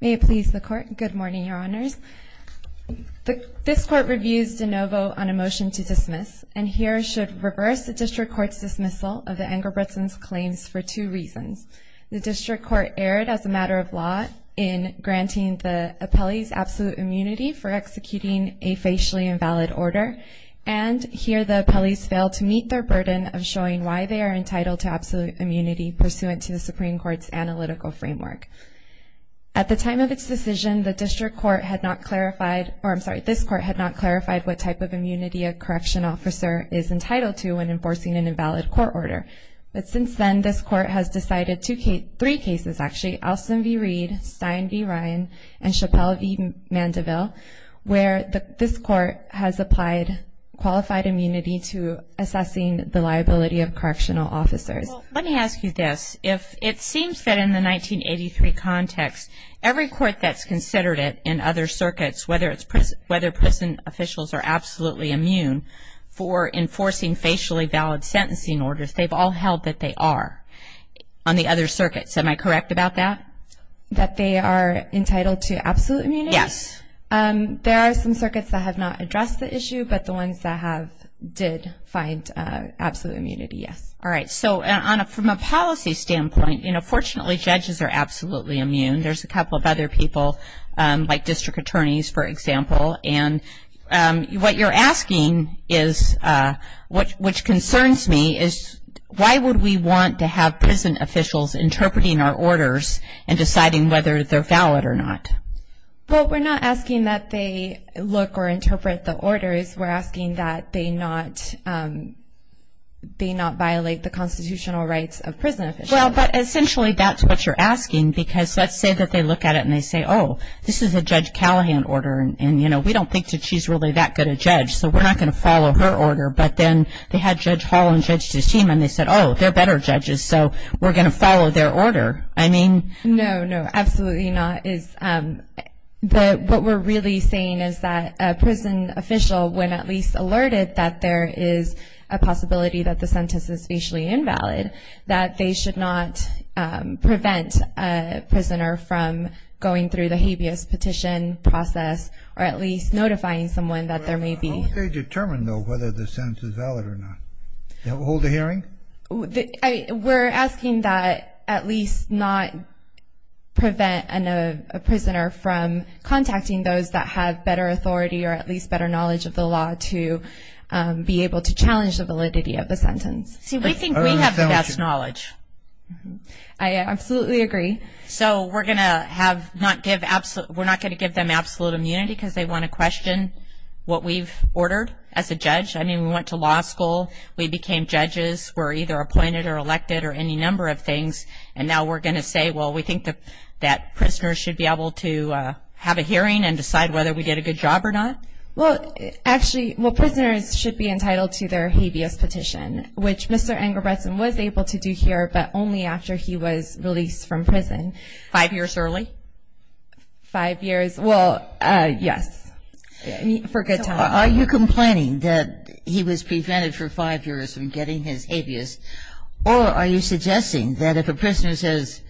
May it please the Court. Good morning, Your Honors. This Court reviews de novo on a motion to dismiss, and here should reverse the District Court's dismissal of the Engebretson's claims for two reasons. The District Court erred as a matter of law in granting the appellees absolute immunity for executing a facially invalid order, and here the appellees failed to meet their burden of showing why they are entitled to absolute immunity pursuant to the Supreme Court's analytical framework. At the time of its decision, the District Court had not clarified, or I'm sorry, this Court had not clarified what type of immunity a correctional officer is entitled to when enforcing an invalid court order. But since then, this Court has decided three cases actually, Alston v. Reed, Stein v. Ryan, and Chappelle v. Mandeville, where this Court has applied qualified immunity to assessing the liability of correctional officers. Well, let me ask you this. It seems that in the 1983 context, every court that's considered it in other circuits, whether it's prison officials are absolutely immune for enforcing facially valid sentencing orders, they've all held that they are on the other circuits. Am I correct about that? That they are entitled to absolute immunity? Yes. There are some circuits that have not addressed the issue, but the ones that have did find absolute immunity, yes. All right. So from a policy standpoint, you know, fortunately judges are absolutely immune. There's a couple of other people, like district attorneys, for example. And what you're asking is, which concerns me, is why would we want to have prison officials interpreting our orders and deciding whether they're valid or not? Well, we're not asking that they look or interpret the orders. We're asking that they not violate the constitutional rights of prison officials. Well, but essentially that's what you're asking, because let's say that they look at it and they say, oh, this is a Judge Callahan order, and, you know, we don't think that she's really that good a judge, so we're not going to follow her order. But then they had Judge Hall and Judge DeSima, and they said, oh, they're better judges, so we're going to follow their order. I mean. No, no, absolutely not. What we're really saying is that a prison official, when at least alerted that there is a possibility that the sentence is facially invalid, that they should not prevent a prisoner from going through the habeas petition process or at least notifying someone that there may be. How would they determine, though, whether the sentence is valid or not? Hold a hearing? We're asking that at least not prevent a prisoner from contacting those that have better authority or at least better knowledge of the law to be able to challenge the validity of the sentence. See, we think we have the best knowledge. I absolutely agree. So we're not going to give them absolute immunity because they want to question what we've ordered as a judge? I mean, we went to law school. We became judges. We're either appointed or elected or any number of things, and now we're going to say, well, we think that prisoners should be able to have a hearing and decide whether we did a good job or not? Well, actually, well, prisoners should be entitled to their habeas petition, which Mr. Engelbretson was able to do here but only after he was released from prison. Five years early? Five years. Well, yes, for good time. Are you complaining that he was prevented for five years from getting his habeas, or are you suggesting that if a prisoner says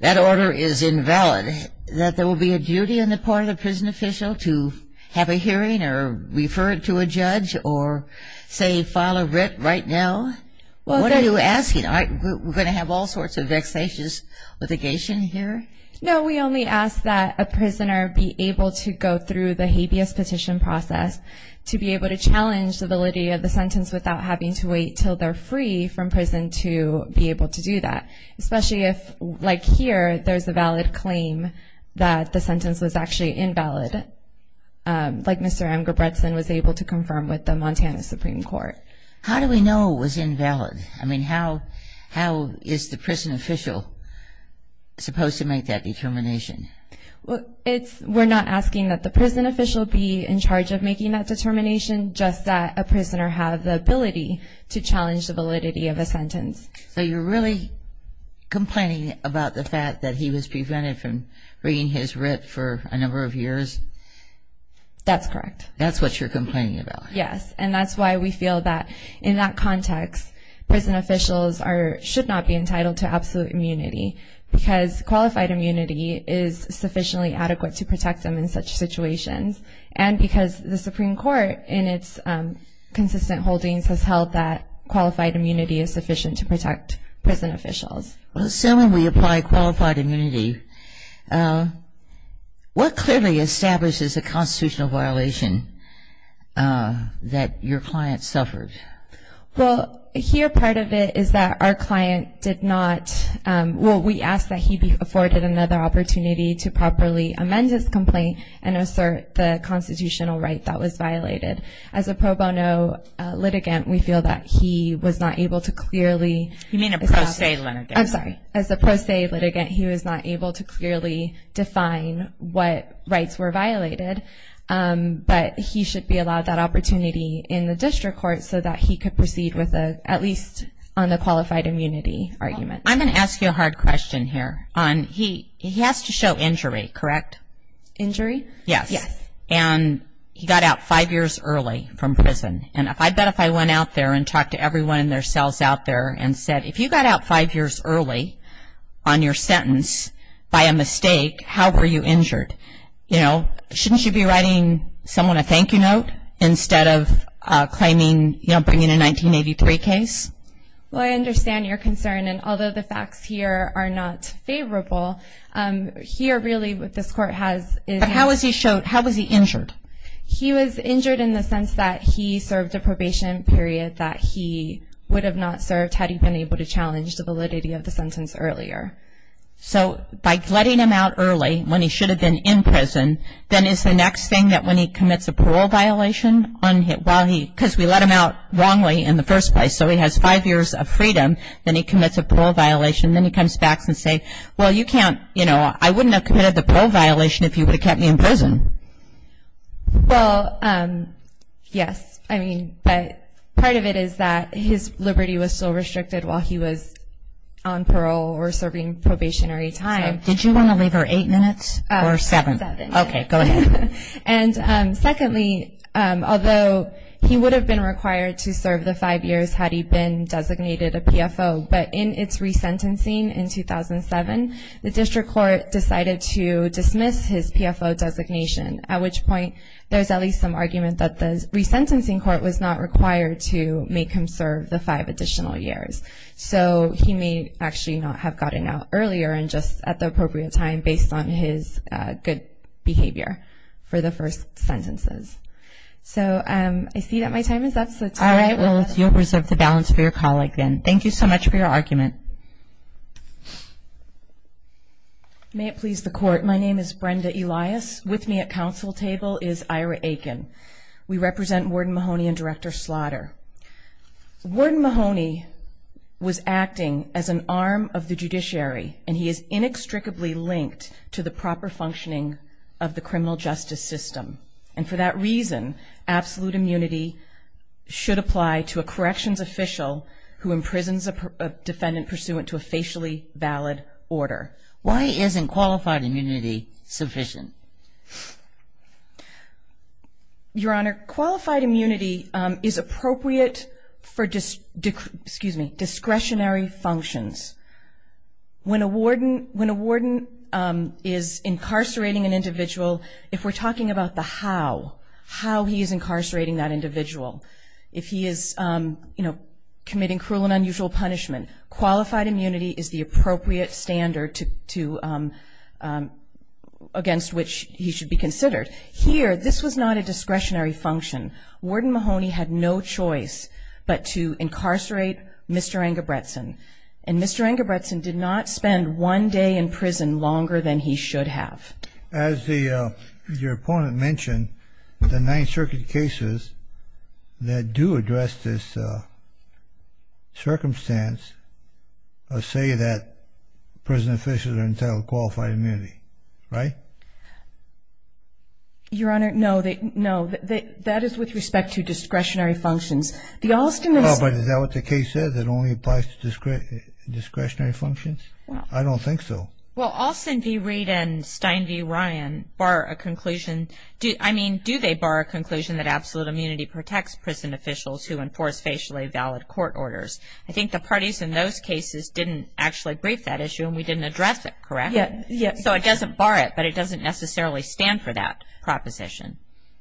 that order is invalid, that there will be a duty on the part of the prison official to have a hearing or refer it to a judge or, say, file a writ right now? What are you asking? We're going to have all sorts of vexatious litigation here? No, we only ask that a prisoner be able to go through the habeas petition process to be able to challenge the validity of the sentence without having to wait until they're free from prison to be able to do that, especially if, like here, there's a valid claim that the sentence was actually invalid, like Mr. Engelbretson was able to confirm with the Montana Supreme Court. How do we know it was invalid? I mean, how is the prison official supposed to make that determination? We're not asking that the prison official be in charge of making that determination, just that a prisoner have the ability to challenge the validity of a sentence. So you're really complaining about the fact that he was prevented from bringing his writ for a number of years? That's correct. That's what you're complaining about? Yes. And that's why we feel that in that context, prison officials should not be entitled to absolute immunity because qualified immunity is sufficiently adequate to protect them in such situations and because the Supreme Court, in its consistent holdings, has held that qualified immunity is sufficient to protect prison officials. So when we apply qualified immunity, what clearly establishes a constitutional violation that your client suffered? Well, here part of it is that our client did not, well, we asked that he be afforded another opportunity to properly amend his complaint and assert the constitutional right that was violated. As a pro bono litigant, we feel that he was not able to clearly establish. You mean a pro se litigant. I'm sorry. As a pro se litigant, he was not able to clearly define what rights were violated, but he should be allowed that opportunity in the district court so that he could proceed with at least on the qualified immunity argument. I'm going to ask you a hard question here. He has to show injury, correct? Injury? Yes. Yes. And he got out five years early from prison. And I bet if I went out there and talked to everyone in their cells out there and said, if you got out five years early on your sentence by a mistake, how were you injured? You know, shouldn't you be writing someone a thank you note instead of claiming, you know, bringing a 1983 case? Well, I understand your concern, and although the facts here are not favorable, here really what this court has is. But how was he injured? He was injured in the sense that he served a probation period that he would have not served had he been able to challenge the validity of the sentence earlier. So by letting him out early when he should have been in prison, then is the next thing that when he commits a parole violation, because we let him out wrongly in the first place, so he has five years of freedom, then he commits a parole violation. Then he comes back and says, well, you can't, you know, I wouldn't have committed the parole violation if you would have kept me in prison. Well, yes. I mean, part of it is that his liberty was still restricted while he was on parole or serving probationary time. Did you want to leave her eight minutes or seven? Seven. Okay, go ahead. And secondly, although he would have been required to serve the five years had he been designated a PFO, but in its resentencing in 2007, the district court decided to dismiss his PFO designation, at which point there's at least some argument that the resentencing court was not required to make him serve the five additional years. So he may actually not have gotten out earlier and just at the appropriate time based on his good behavior for the first sentences. So I see that my time is up. All right, well, you'll reserve the balance for your colleague then. Thank you so much for your argument. May it please the Court. My name is Brenda Elias. With me at council table is Ira Aiken. We represent Warden Mahoney and Director Slaughter. Warden Mahoney was acting as an arm of the judiciary, and he is inextricably linked to the proper functioning of the criminal justice system. And for that reason, absolute immunity should apply to a corrections official who imprisons a defendant pursuant to a facially valid order. Why isn't qualified immunity sufficient? Your Honor, qualified immunity is appropriate for discretionary functions. When a warden is incarcerating an individual, if we're talking about the how, how he is incarcerating that individual, if he is, you know, committing cruel and unusual punishment, qualified immunity is the appropriate standard against which he should be considered. Here, this was not a discretionary function. Warden Mahoney had no choice but to incarcerate Mr. Engelbretson. And Mr. Engelbretson did not spend one day in prison longer than he should have. As your opponent mentioned, the Ninth Circuit cases that do address this circumstance say that prison officials are entitled to qualified immunity, right? Your Honor, no, that is with respect to discretionary functions. Oh, but is that what the case says? It only applies to discretionary functions? I don't think so. Well, Alston v. Reid and Stein v. Ryan bar a conclusion. I mean, do they bar a conclusion that absolute immunity protects prison officials who enforce facially valid court orders? I think the parties in those cases didn't actually brief that issue and we didn't address it, correct? Yes. So it doesn't bar it, but it doesn't necessarily stand for that proposition.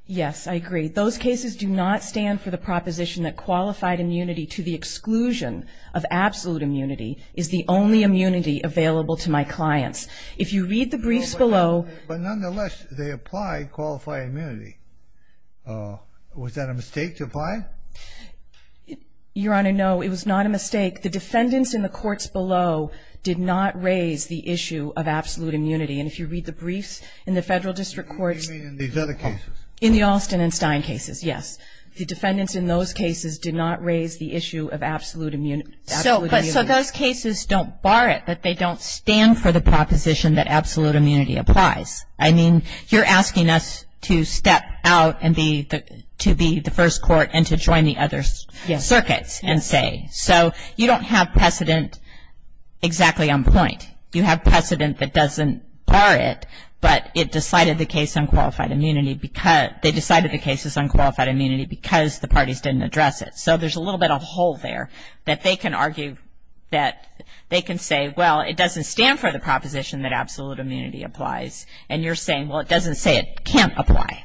Yes, I agree. Those cases do not stand for the proposition that qualified immunity to the exclusion of absolute immunity is the only immunity available to my clients. If you read the briefs below. But nonetheless, they apply qualified immunity. Was that a mistake to apply? Your Honor, no, it was not a mistake. The defendants in the courts below did not raise the issue of absolute immunity. And if you read the briefs in the Federal District Courts. What do you mean in these other cases? In the Alston and Stein cases, yes. The defendants in those cases did not raise the issue of absolute immunity. So those cases don't bar it, but they don't stand for the proposition that absolute immunity applies. I mean, you're asking us to step out and be the first court and to join the other circuits and say. So you don't have precedent exactly on point. You have precedent that doesn't bar it, but it decided the case on qualified immunity because the parties didn't address it. So there's a little bit of a hole there that they can argue that they can say, well, it doesn't stand for the proposition that absolute immunity applies. And you're saying, well, it doesn't say it can't apply.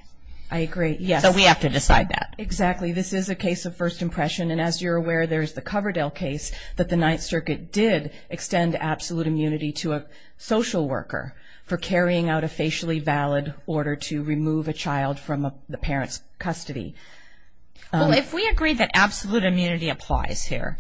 I agree, yes. So we have to decide that. Exactly. This is a case of first impression, and as you're aware, there's the Coverdale case that the Ninth Circuit did extend absolute immunity to a social worker for carrying out a facially valid order to remove a child from the parent's custody. Well, if we agree that absolute immunity applies here,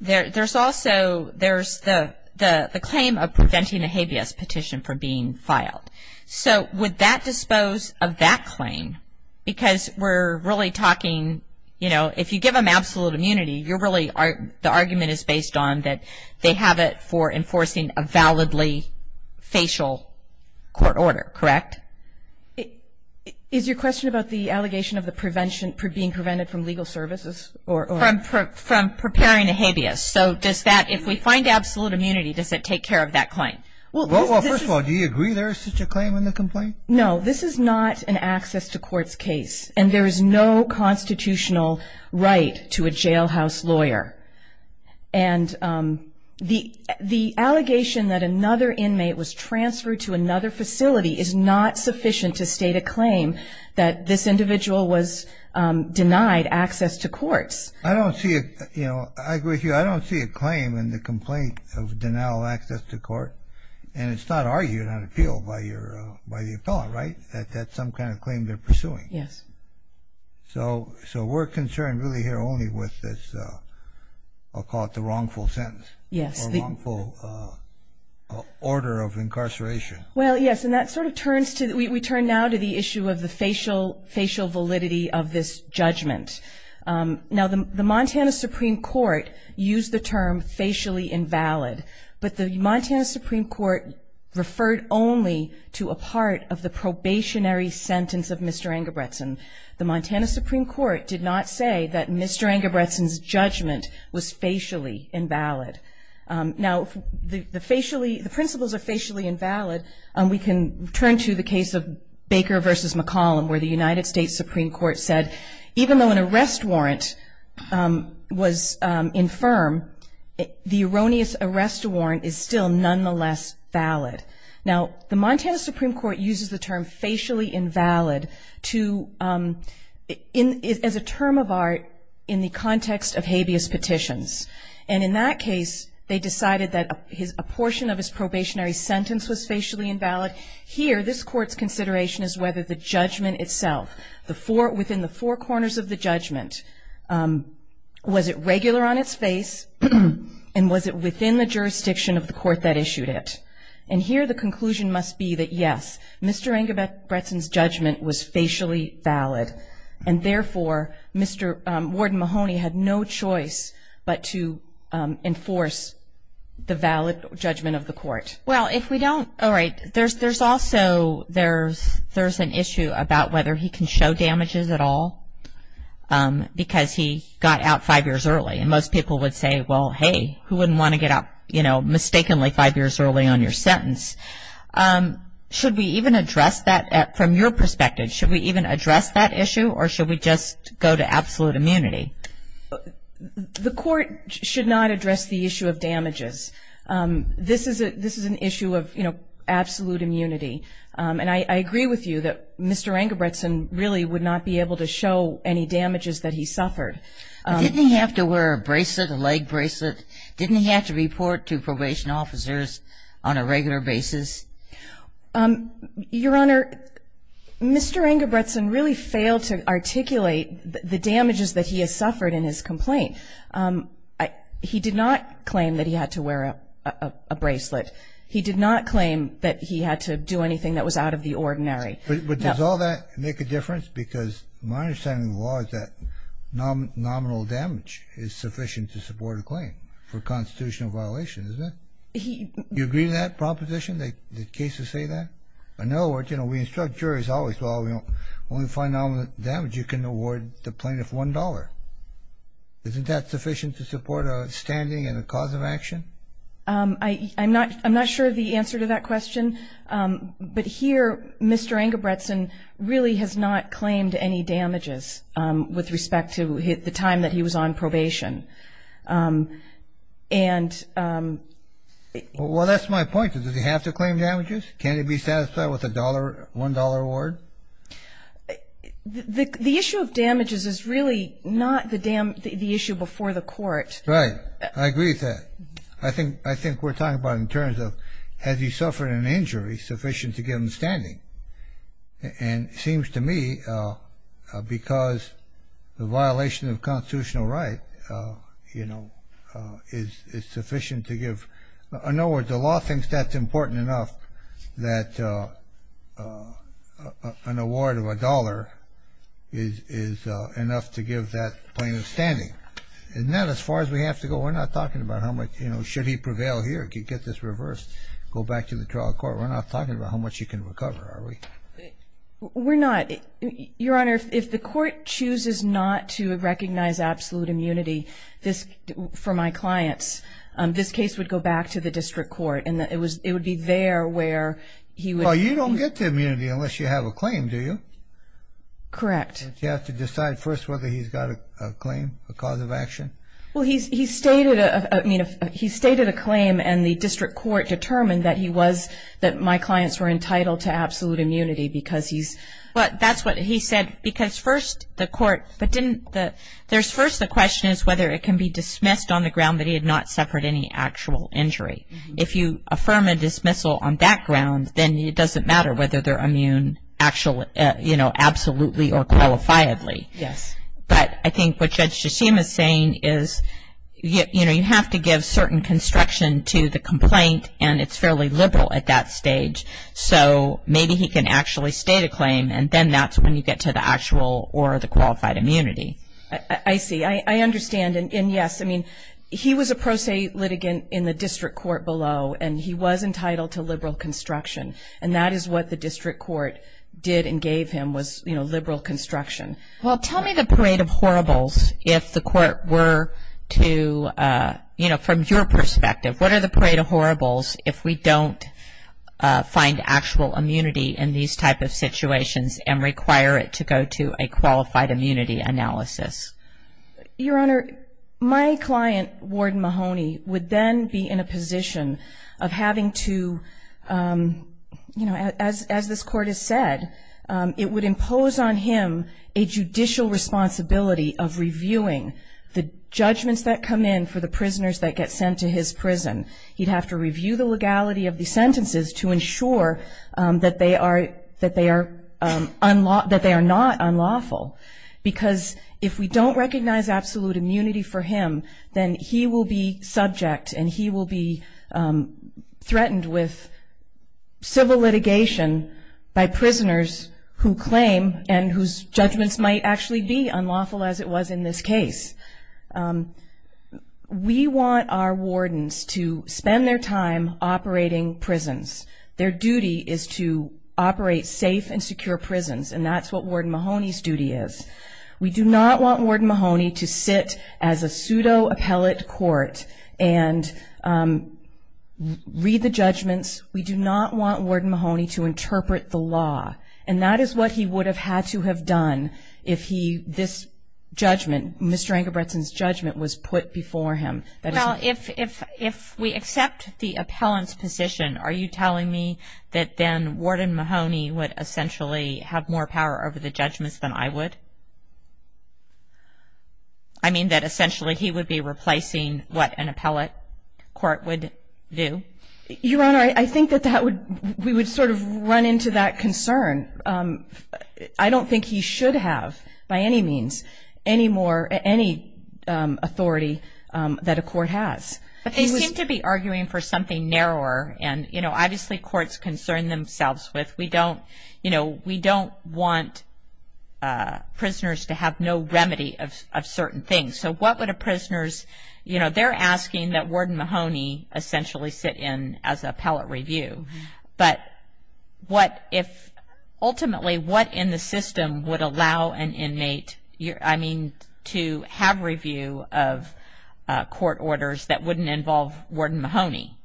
there's also the claim of preventing a habeas petition from being filed. So would that dispose of that claim? Because we're really talking, you know, if you give them absolute immunity, the argument is based on that they have it for enforcing a validly facial court order, correct? Is your question about the allegation of being prevented from legal services? From preparing a habeas. So does that, if we find absolute immunity, does it take care of that claim? Well, first of all, do you agree there is such a claim in the complaint? No, this is not an access to courts case, and there is no constitutional right to a jailhouse lawyer. And the allegation that another inmate was transferred to another facility is not sufficient to state a claim that this individual was denied access to courts. I don't see, you know, I agree with you. I don't see a claim in the complaint of denial of access to court, and it's not argued on appeal by the appellant, right, that that's some kind of claim they're pursuing? Yes. So we're concerned really here only with this, I'll call it the wrongful sentence. Yes. Or wrongful order of incarceration. Well, yes, and that sort of turns to, we turn now to the issue of the facial validity of this judgment. Now, the Montana Supreme Court used the term facially invalid, but the Montana Supreme Court referred only to a part of the probationary sentence of Mr. Engelbretson. The Montana Supreme Court did not say that Mr. Engelbretson's judgment was facially invalid. Now, the facially, the principles are facially invalid, and we can turn to the case of Baker v. McCollum where the United States Supreme Court said, even though an arrest warrant was infirm, the erroneous arrest warrant is still nonetheless valid. Now, the Montana Supreme Court uses the term facially invalid as a term of art in the context of habeas petitions, and in that case they decided that a portion of his probationary sentence was facially invalid. Here, this Court's consideration is whether the judgment itself, within the four corners of the judgment, was it regular on its face, and was it within the jurisdiction of the court that issued it. And here the conclusion must be that, yes, Mr. Engelbretson's judgment was facially valid, and therefore, Warden Mahoney had no choice but to enforce the valid judgment of the court. Well, if we don't, all right, there's also, there's an issue about whether he can show damages at all, because he got out five years early, and most people would say, well, hey, who wouldn't want to get out, you know, mistakenly five years early on your sentence? Should we even address that from your perspective? Should we even address that issue, or should we just go to absolute immunity? The court should not address the issue of damages. This is an issue of, you know, absolute immunity. And I agree with you that Mr. Engelbretson really would not be able to show any damages that he suffered. Didn't he have to wear a bracelet, a leg bracelet? Didn't he have to report to probation officers on a regular basis? Your Honor, Mr. Engelbretson really failed to articulate the damages that he has suffered in his complaint. He did not claim that he had to wear a bracelet. He did not claim that he had to do anything that was out of the ordinary. But does all that make a difference? Because my understanding of the law is that nominal damage is sufficient to support a claim for constitutional violation, isn't it? Do you agree with that proposition? Do the cases say that? In other words, you know, we instruct jurors always, well, when we find nominal damage you can award the plaintiff $1. Isn't that sufficient to support a standing and a cause of action? I'm not sure of the answer to that question, but here Mr. Engelbretson really has not claimed any damages with respect to the time that he was on probation. And... Well, that's my point. Does he have to claim damages? Can't he be satisfied with a $1 award? The issue of damages is really not the issue before the court. Right. I agree with that. I think we're talking about in terms of has he suffered an injury sufficient to give him standing. And it seems to me because the violation of constitutional right, you know, is sufficient to give... In other words, the law thinks that's important enough that an award of $1 is enough to give that plaintiff standing. Isn't that as far as we have to go? We're not talking about how much, you know, should he prevail here? Could he get this reversed, go back to the trial court? We're not talking about how much he can recover, are we? We're not. Your Honor, if the court chooses not to recognize absolute immunity for my clients, this case would go back to the district court and it would be there where he would... Oh, you don't get the immunity unless you have a claim, do you? Correct. Don't you have to decide first whether he's got a claim, a cause of action? Well, he stated a claim and the district court determined that he was... that my clients were entitled to absolute immunity because he's... But that's what he said because first the court... First the question is whether it can be dismissed on the ground that he had not suffered any actual injury. If you affirm a dismissal on that ground, then it doesn't matter whether they're immune absolutely or qualifiably. Yes. But I think what Judge Shishim is saying is, you know, you have to give certain construction to the complaint and it's fairly liberal at that stage. So maybe he can actually state a claim and then that's when you get to the actual or the qualified immunity. I see. I understand. And, yes, I mean, he was a pro se litigant in the district court below and he was entitled to liberal construction. And that is what the district court did and gave him was, you know, liberal construction. Well, tell me the parade of horribles if the court were to, you know, from your perspective, what are the parade of horribles if we don't find actual immunity in these type of situations and require it to go to a qualified immunity analysis? Your Honor, my client, Ward Mahoney, would then be in a position of having to, you know, as this court has said, it would impose on him a judicial responsibility of reviewing the judgments that come in for the prisoners that get sent to his prison. He'd have to review the legality of the sentences to ensure that they are not unlawful. Because if we don't recognize absolute immunity for him, then he will be subject and he will be threatened with civil litigation by prisoners who claim and whose judgments might actually be unlawful as it was in this case. We want our wardens to spend their time operating prisons. Their duty is to operate safe and secure prisons, and that's what Ward Mahoney's duty is. We do not want Ward Mahoney to sit as a pseudo-appellate court and read the judgments. We do not want Ward Mahoney to interpret the law. And that is what he would have had to have done if this judgment, Mr. Engelbretson's judgment was put before him. Well, if we accept the appellant's position, are you telling me that then Warden Mahoney would essentially have more power over the judgments than I would? I mean that essentially he would be replacing what an appellate court would do? Your Honor, I think that we would sort of run into that concern. I don't think he should have, by any means, any authority that a court has. But they seem to be arguing for something narrower, and, you know, obviously courts concern themselves with. We don't, you know, we don't want prisoners to have no remedy of certain things. So what would a prisoner's, you know, they're asking that Warden Mahoney essentially sit in as appellate review. But what if ultimately what in the system would allow an inmate, I mean, to have review of court orders that wouldn't involve Warden Mahoney?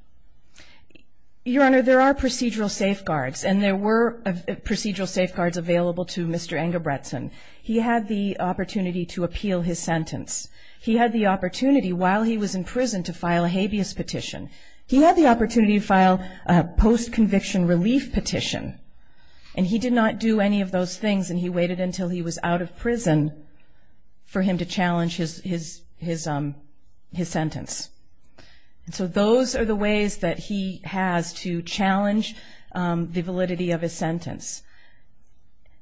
Your Honor, there are procedural safeguards, and there were procedural safeguards available to Mr. Engelbretson. He had the opportunity to appeal his sentence. He had the opportunity while he was in prison to file a habeas petition. He had the opportunity to file a post-conviction relief petition, and he did not do any of those things, and he waited until he was out of prison for him to challenge his sentence. And so those are the ways that he has to challenge the validity of his sentence.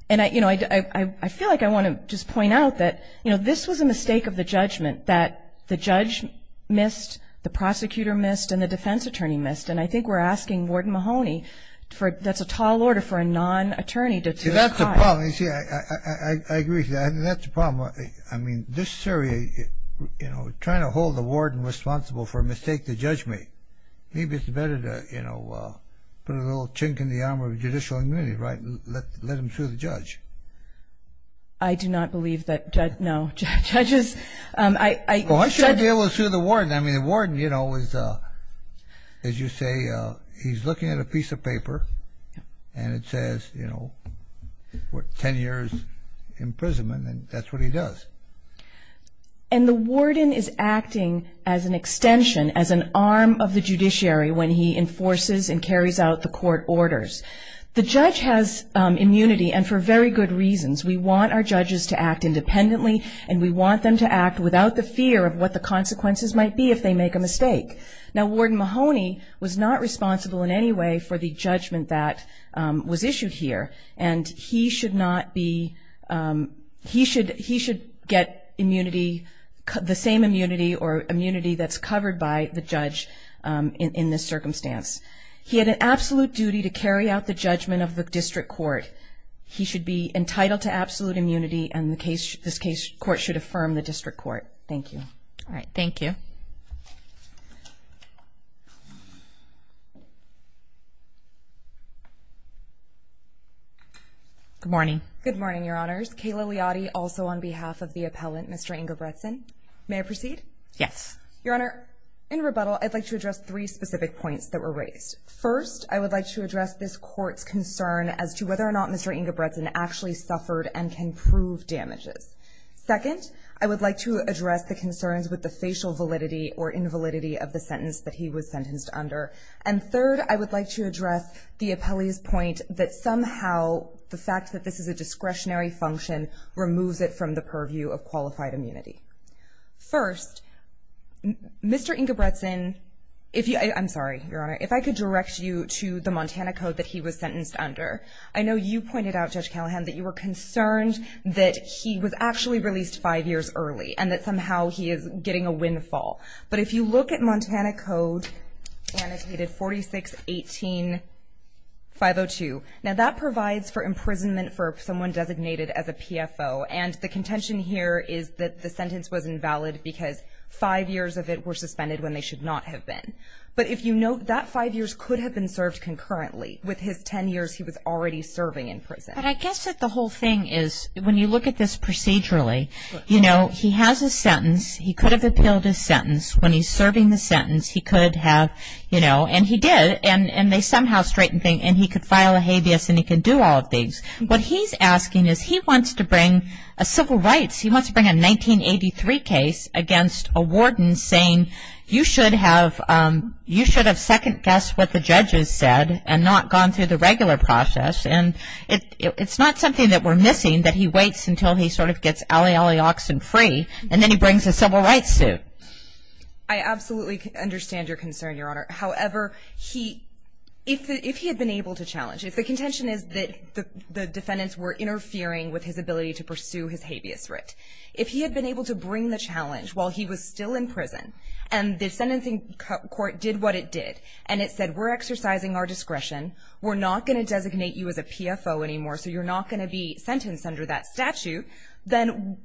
And, you know, I feel like I want to just point out that, you know, this was a mistake of the judgment, that the judge missed, the prosecutor missed, and the defense attorney missed. And I think we're asking Warden Mahoney for that's a tall order for a non-attorney to testify. That's the problem. You see, I agree with you. That's the problem. I mean, this jury, you know, trying to hold the warden responsible for a mistake the judge made, maybe it's better to, you know, put a little chink in the armor of judicial immunity, right, and let him sue the judge. I do not believe that judge – no, judges – Well, I should be able to sue the warden. I mean, the warden, you know, is, as you say, he's looking at a piece of paper, and it says, you know, 10 years imprisonment, and that's what he does. And the warden is acting as an extension, as an arm of the judiciary, when he enforces and carries out the court orders. The judge has immunity, and for very good reasons. We want our judges to act independently, and we want them to act without the fear of what the consequences might be if they make a mistake. Now, Warden Mahoney was not responsible in any way for the judgment that was issued here, and he should not be – he should get immunity, the same immunity or immunity that's covered by the judge in this circumstance. He had an absolute duty to carry out the judgment of the district court. He should be entitled to absolute immunity, and this court should affirm the district court. Thank you. All right, thank you. Good morning. Good morning, Your Honors. Kayla Liotti, also on behalf of the appellant, Mr. Ingebrigtsen. May I proceed? Yes. Your Honor, in rebuttal, I'd like to address three specific points that were raised. First, I would like to address this court's concern as to whether or not Mr. Ingebrigtsen actually suffered and can prove damages. Second, I would like to address the concerns with the facial validity or invalidity of the sentence that he was sentenced under. And third, I would like to address the appellee's point that somehow the fact that this is a discretionary function removes it from the purview of qualified immunity. First, Mr. Ingebrigtsen, if you – I'm sorry, Your Honor. If I could direct you to the Montana Code that he was sentenced under. I know you pointed out, Judge Callahan, that you were concerned that he was actually released five years early and that somehow he is getting a windfall. But if you look at Montana Code, annotated 4618.502, now that provides for imprisonment for someone designated as a PFO. And the contention here is that the sentence was invalid because five years of it were suspended when they should not have been. But if you note, that five years could have been served concurrently. With his 10 years, he was already serving in prison. But I guess that the whole thing is, when you look at this procedurally, you know, he has a sentence. He could have appealed his sentence. When he's serving the sentence, he could have, you know – and he did. And they somehow straightened things. And he could file a habeas and he could do all of these. What he's asking is he wants to bring a civil rights – he wants to bring a 1983 case against a warden saying, you should have second-guessed what the judges said and not gone through the regular process. And it's not something that we're missing, that he waits until he sort of gets olly-olly oxen free, and then he brings a civil rights suit. I absolutely understand your concern, Your Honor. However, if he had been able to challenge – if the contention is that the defendants were interfering with his ability to pursue his habeas writ, if he had been able to bring the challenge while he was still in prison and the sentencing court did what it did, and it said, we're exercising our discretion, we're not going to designate you as a PFO anymore, so you're not going to be sentenced under that statute, then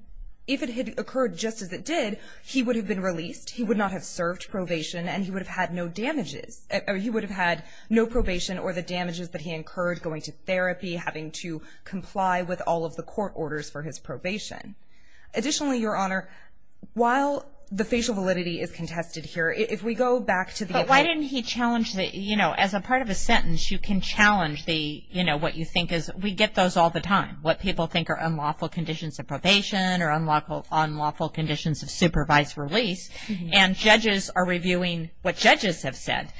if it had occurred just as it did, he would have been released, he would not have served probation, and he would have had no damages. He would have had no probation or the damages that he incurred going to therapy, having to comply with all of the court orders for his probation. Additionally, Your Honor, while the facial validity is contested here, if we go back to the – as a part of a sentence, you can challenge what you think is – we get those all the time, what people think are unlawful conditions of probation or unlawful conditions of supervised release, and judges are reviewing what judges have said.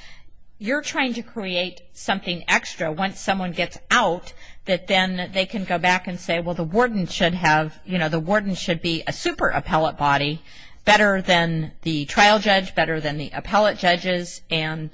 You're trying to create something extra once someone gets out that then they can go back and say, well, the warden should be a super appellate body, better than the trial judge, better than the appellate judges, and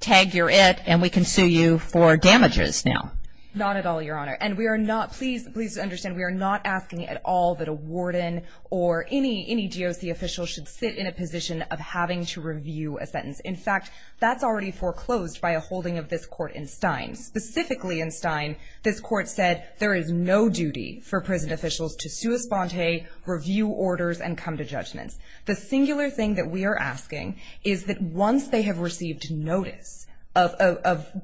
tag, you're it, and we can sue you for damages now. Not at all, Your Honor. And we are not – please understand, we are not asking at all that a warden or any GOC official should sit in a position of having to review a sentence. In fact, that's already foreclosed by a holding of this court in Stein. Specifically in Stein, this court said there is no duty for prison officials to sua sponte, review orders, and come to judgments. The singular thing that we are asking is that once they have received notice of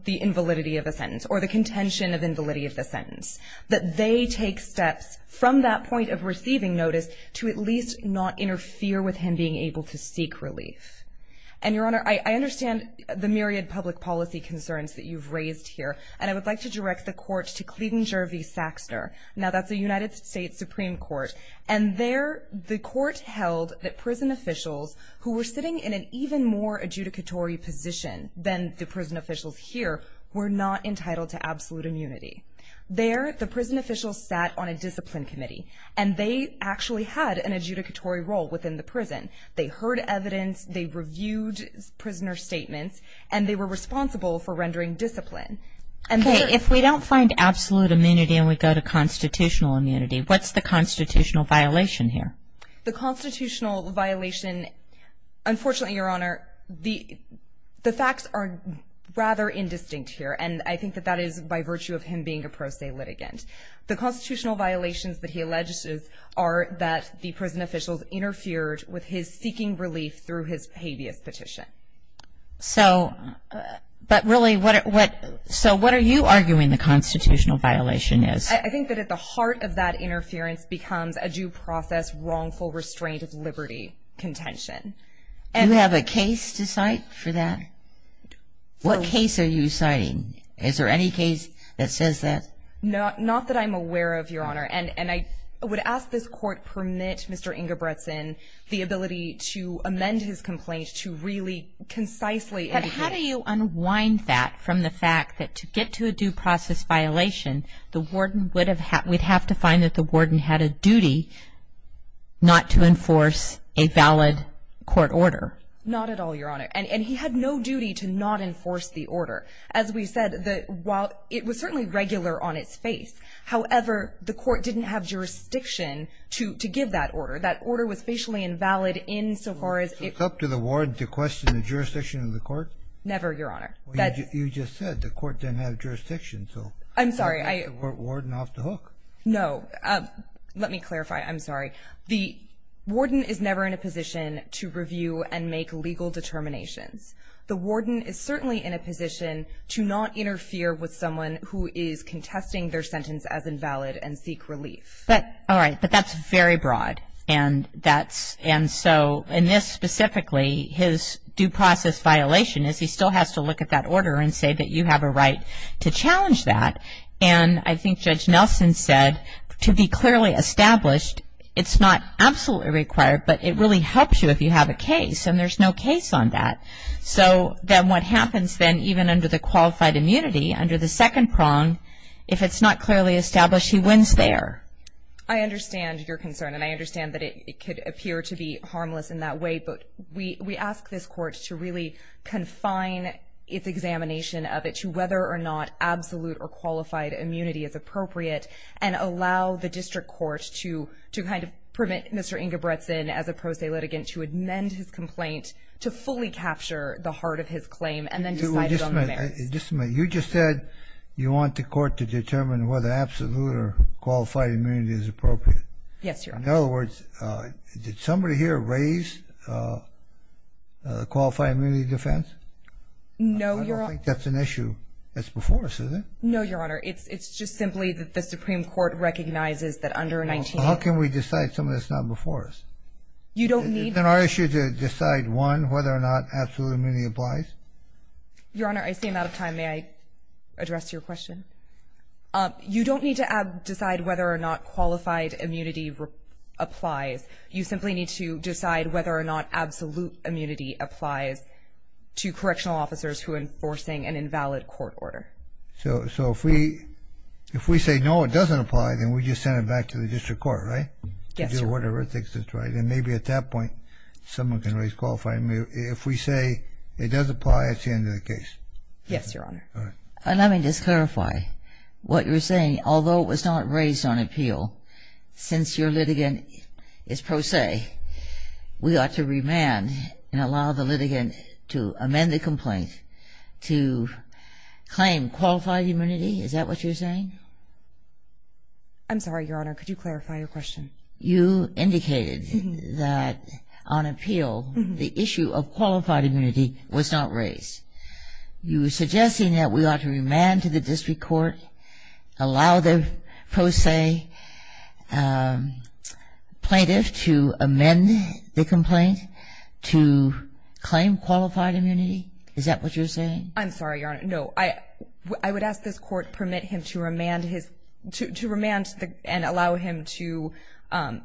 the invalidity of a sentence or the contention of invalidity of the sentence, that they take steps from that point of receiving notice to at least not interfere with him being able to seek relief. And, Your Honor, I understand the myriad public policy concerns that you've raised here, and I would like to direct the court to Clinger v. Saxner. Now, that's a United States Supreme Court, and there the court held that prison officials who were sitting in an even more adjudicatory position than the prison officials here were not entitled to absolute immunity. There the prison officials sat on a discipline committee, and they actually had an adjudicatory role within the prison. They heard evidence, they reviewed prisoner statements, and they were responsible for rendering discipline. Okay. If we don't find absolute immunity and we go to constitutional immunity, what's the constitutional violation here? The constitutional violation, unfortunately, Your Honor, the facts are rather indistinct here, and I think that that is by virtue of him being a pro se litigant. The constitutional violations that he alleges are that the prison officials interfered with his seeking relief through his habeas petition. So, but really, what are you arguing the constitutional violation is? I think that at the heart of that interference becomes a due process wrongful restraint of liberty contention. Do you have a case to cite for that? What case are you citing? Is there any case that says that? Not that I'm aware of, Your Honor, and I would ask this Court permit Mr. Ingebrigtsen the ability to amend his complaint to really concisely indicate. But how do you unwind that from the fact that to get to a due process violation, the warden would have to find that the warden had a duty not to enforce a valid court order? Not at all, Your Honor. And he had no duty to not enforce the order. As we said, while it was certainly regular on its face, however, the court didn't have jurisdiction to give that order. That order was facially invalid insofar as it... So it's up to the ward to question the jurisdiction of the court? Never, Your Honor. You just said the court didn't have jurisdiction, so... I'm sorry. The warden off the hook. No. Let me clarify. I'm sorry. The warden is never in a position to review and make legal determinations. The warden is certainly in a position to not interfere with someone who is contesting their sentence as invalid and seek relief. All right. But that's very broad. And that's so, and this specifically, his due process violation is he still has to look at that order and say that you have a right to challenge that. And I think Judge Nelson said, to be clearly established, it's not absolutely required, but it really helps you if you have a case. And there's no case on that. So then what happens then, even under the qualified immunity, under the second prong, if it's not clearly established, he wins there. I understand your concern, and I understand that it could appear to be harmless in that way. But we ask this court to really confine its examination of it to whether or not absolute or qualified immunity is appropriate and allow the district court to kind of permit Mr. Ingebretson, as a pro se litigant, to amend his complaint to fully capture the heart of his claim and then decide it on the merits. Just a minute. You just said you want the court to determine whether absolute or qualified immunity is appropriate. Yes, Your Honor. In other words, did somebody here raise qualified immunity defense? No, Your Honor. I don't think that's an issue that's before us, is it? No, Your Honor. It's just simply that the Supreme Court recognizes that under 19… How can we decide something that's not before us? You don't need… Isn't it our issue to decide, one, whether or not absolute immunity applies? Your Honor, I seem out of time. May I address your question? You don't need to decide whether or not qualified immunity applies. You simply need to decide whether or not absolute immunity applies to correctional officers who are enforcing an invalid court order. So if we say no, it doesn't apply, then we just send it back to the district court, right? Yes, Your Honor. To do whatever it thinks is right, and maybe at that point someone can raise qualified immunity. If we say it does apply, it's the end of the case. Yes, Your Honor. All right. Let me just clarify what you're saying. Although it was not raised on appeal, since your litigant is pro se, we ought to remand and allow the litigant to amend the complaint to claim qualified immunity? Is that what you're saying? I'm sorry, Your Honor. Could you clarify your question? You indicated that on appeal the issue of qualified immunity was not raised. You were suggesting that we ought to remand to the district court, allow the pro se plaintiff to amend the complaint to claim qualified immunity? Is that what you're saying? I'm sorry, Your Honor. No. I would ask this Court permit him to remand his ‑‑ to remand and allow him to ‑‑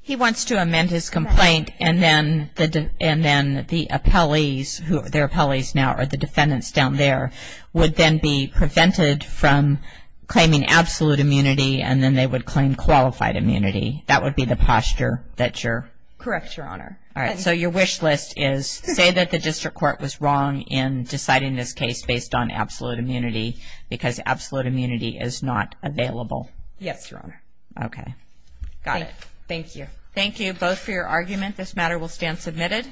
He wants to amend his complaint and then the appellees, their appellees now are the defendants down there, would then be prevented from claiming absolute immunity and then they would claim qualified immunity. That would be the posture that you're ‑‑ Correct, Your Honor. All right. So your wish list is say that the district court was wrong in deciding this case based on absolute immunity because absolute immunity is not available. Yes, Your Honor. Okay. Got it. Thank you. Thank you both for your argument. This matter will stand submitted.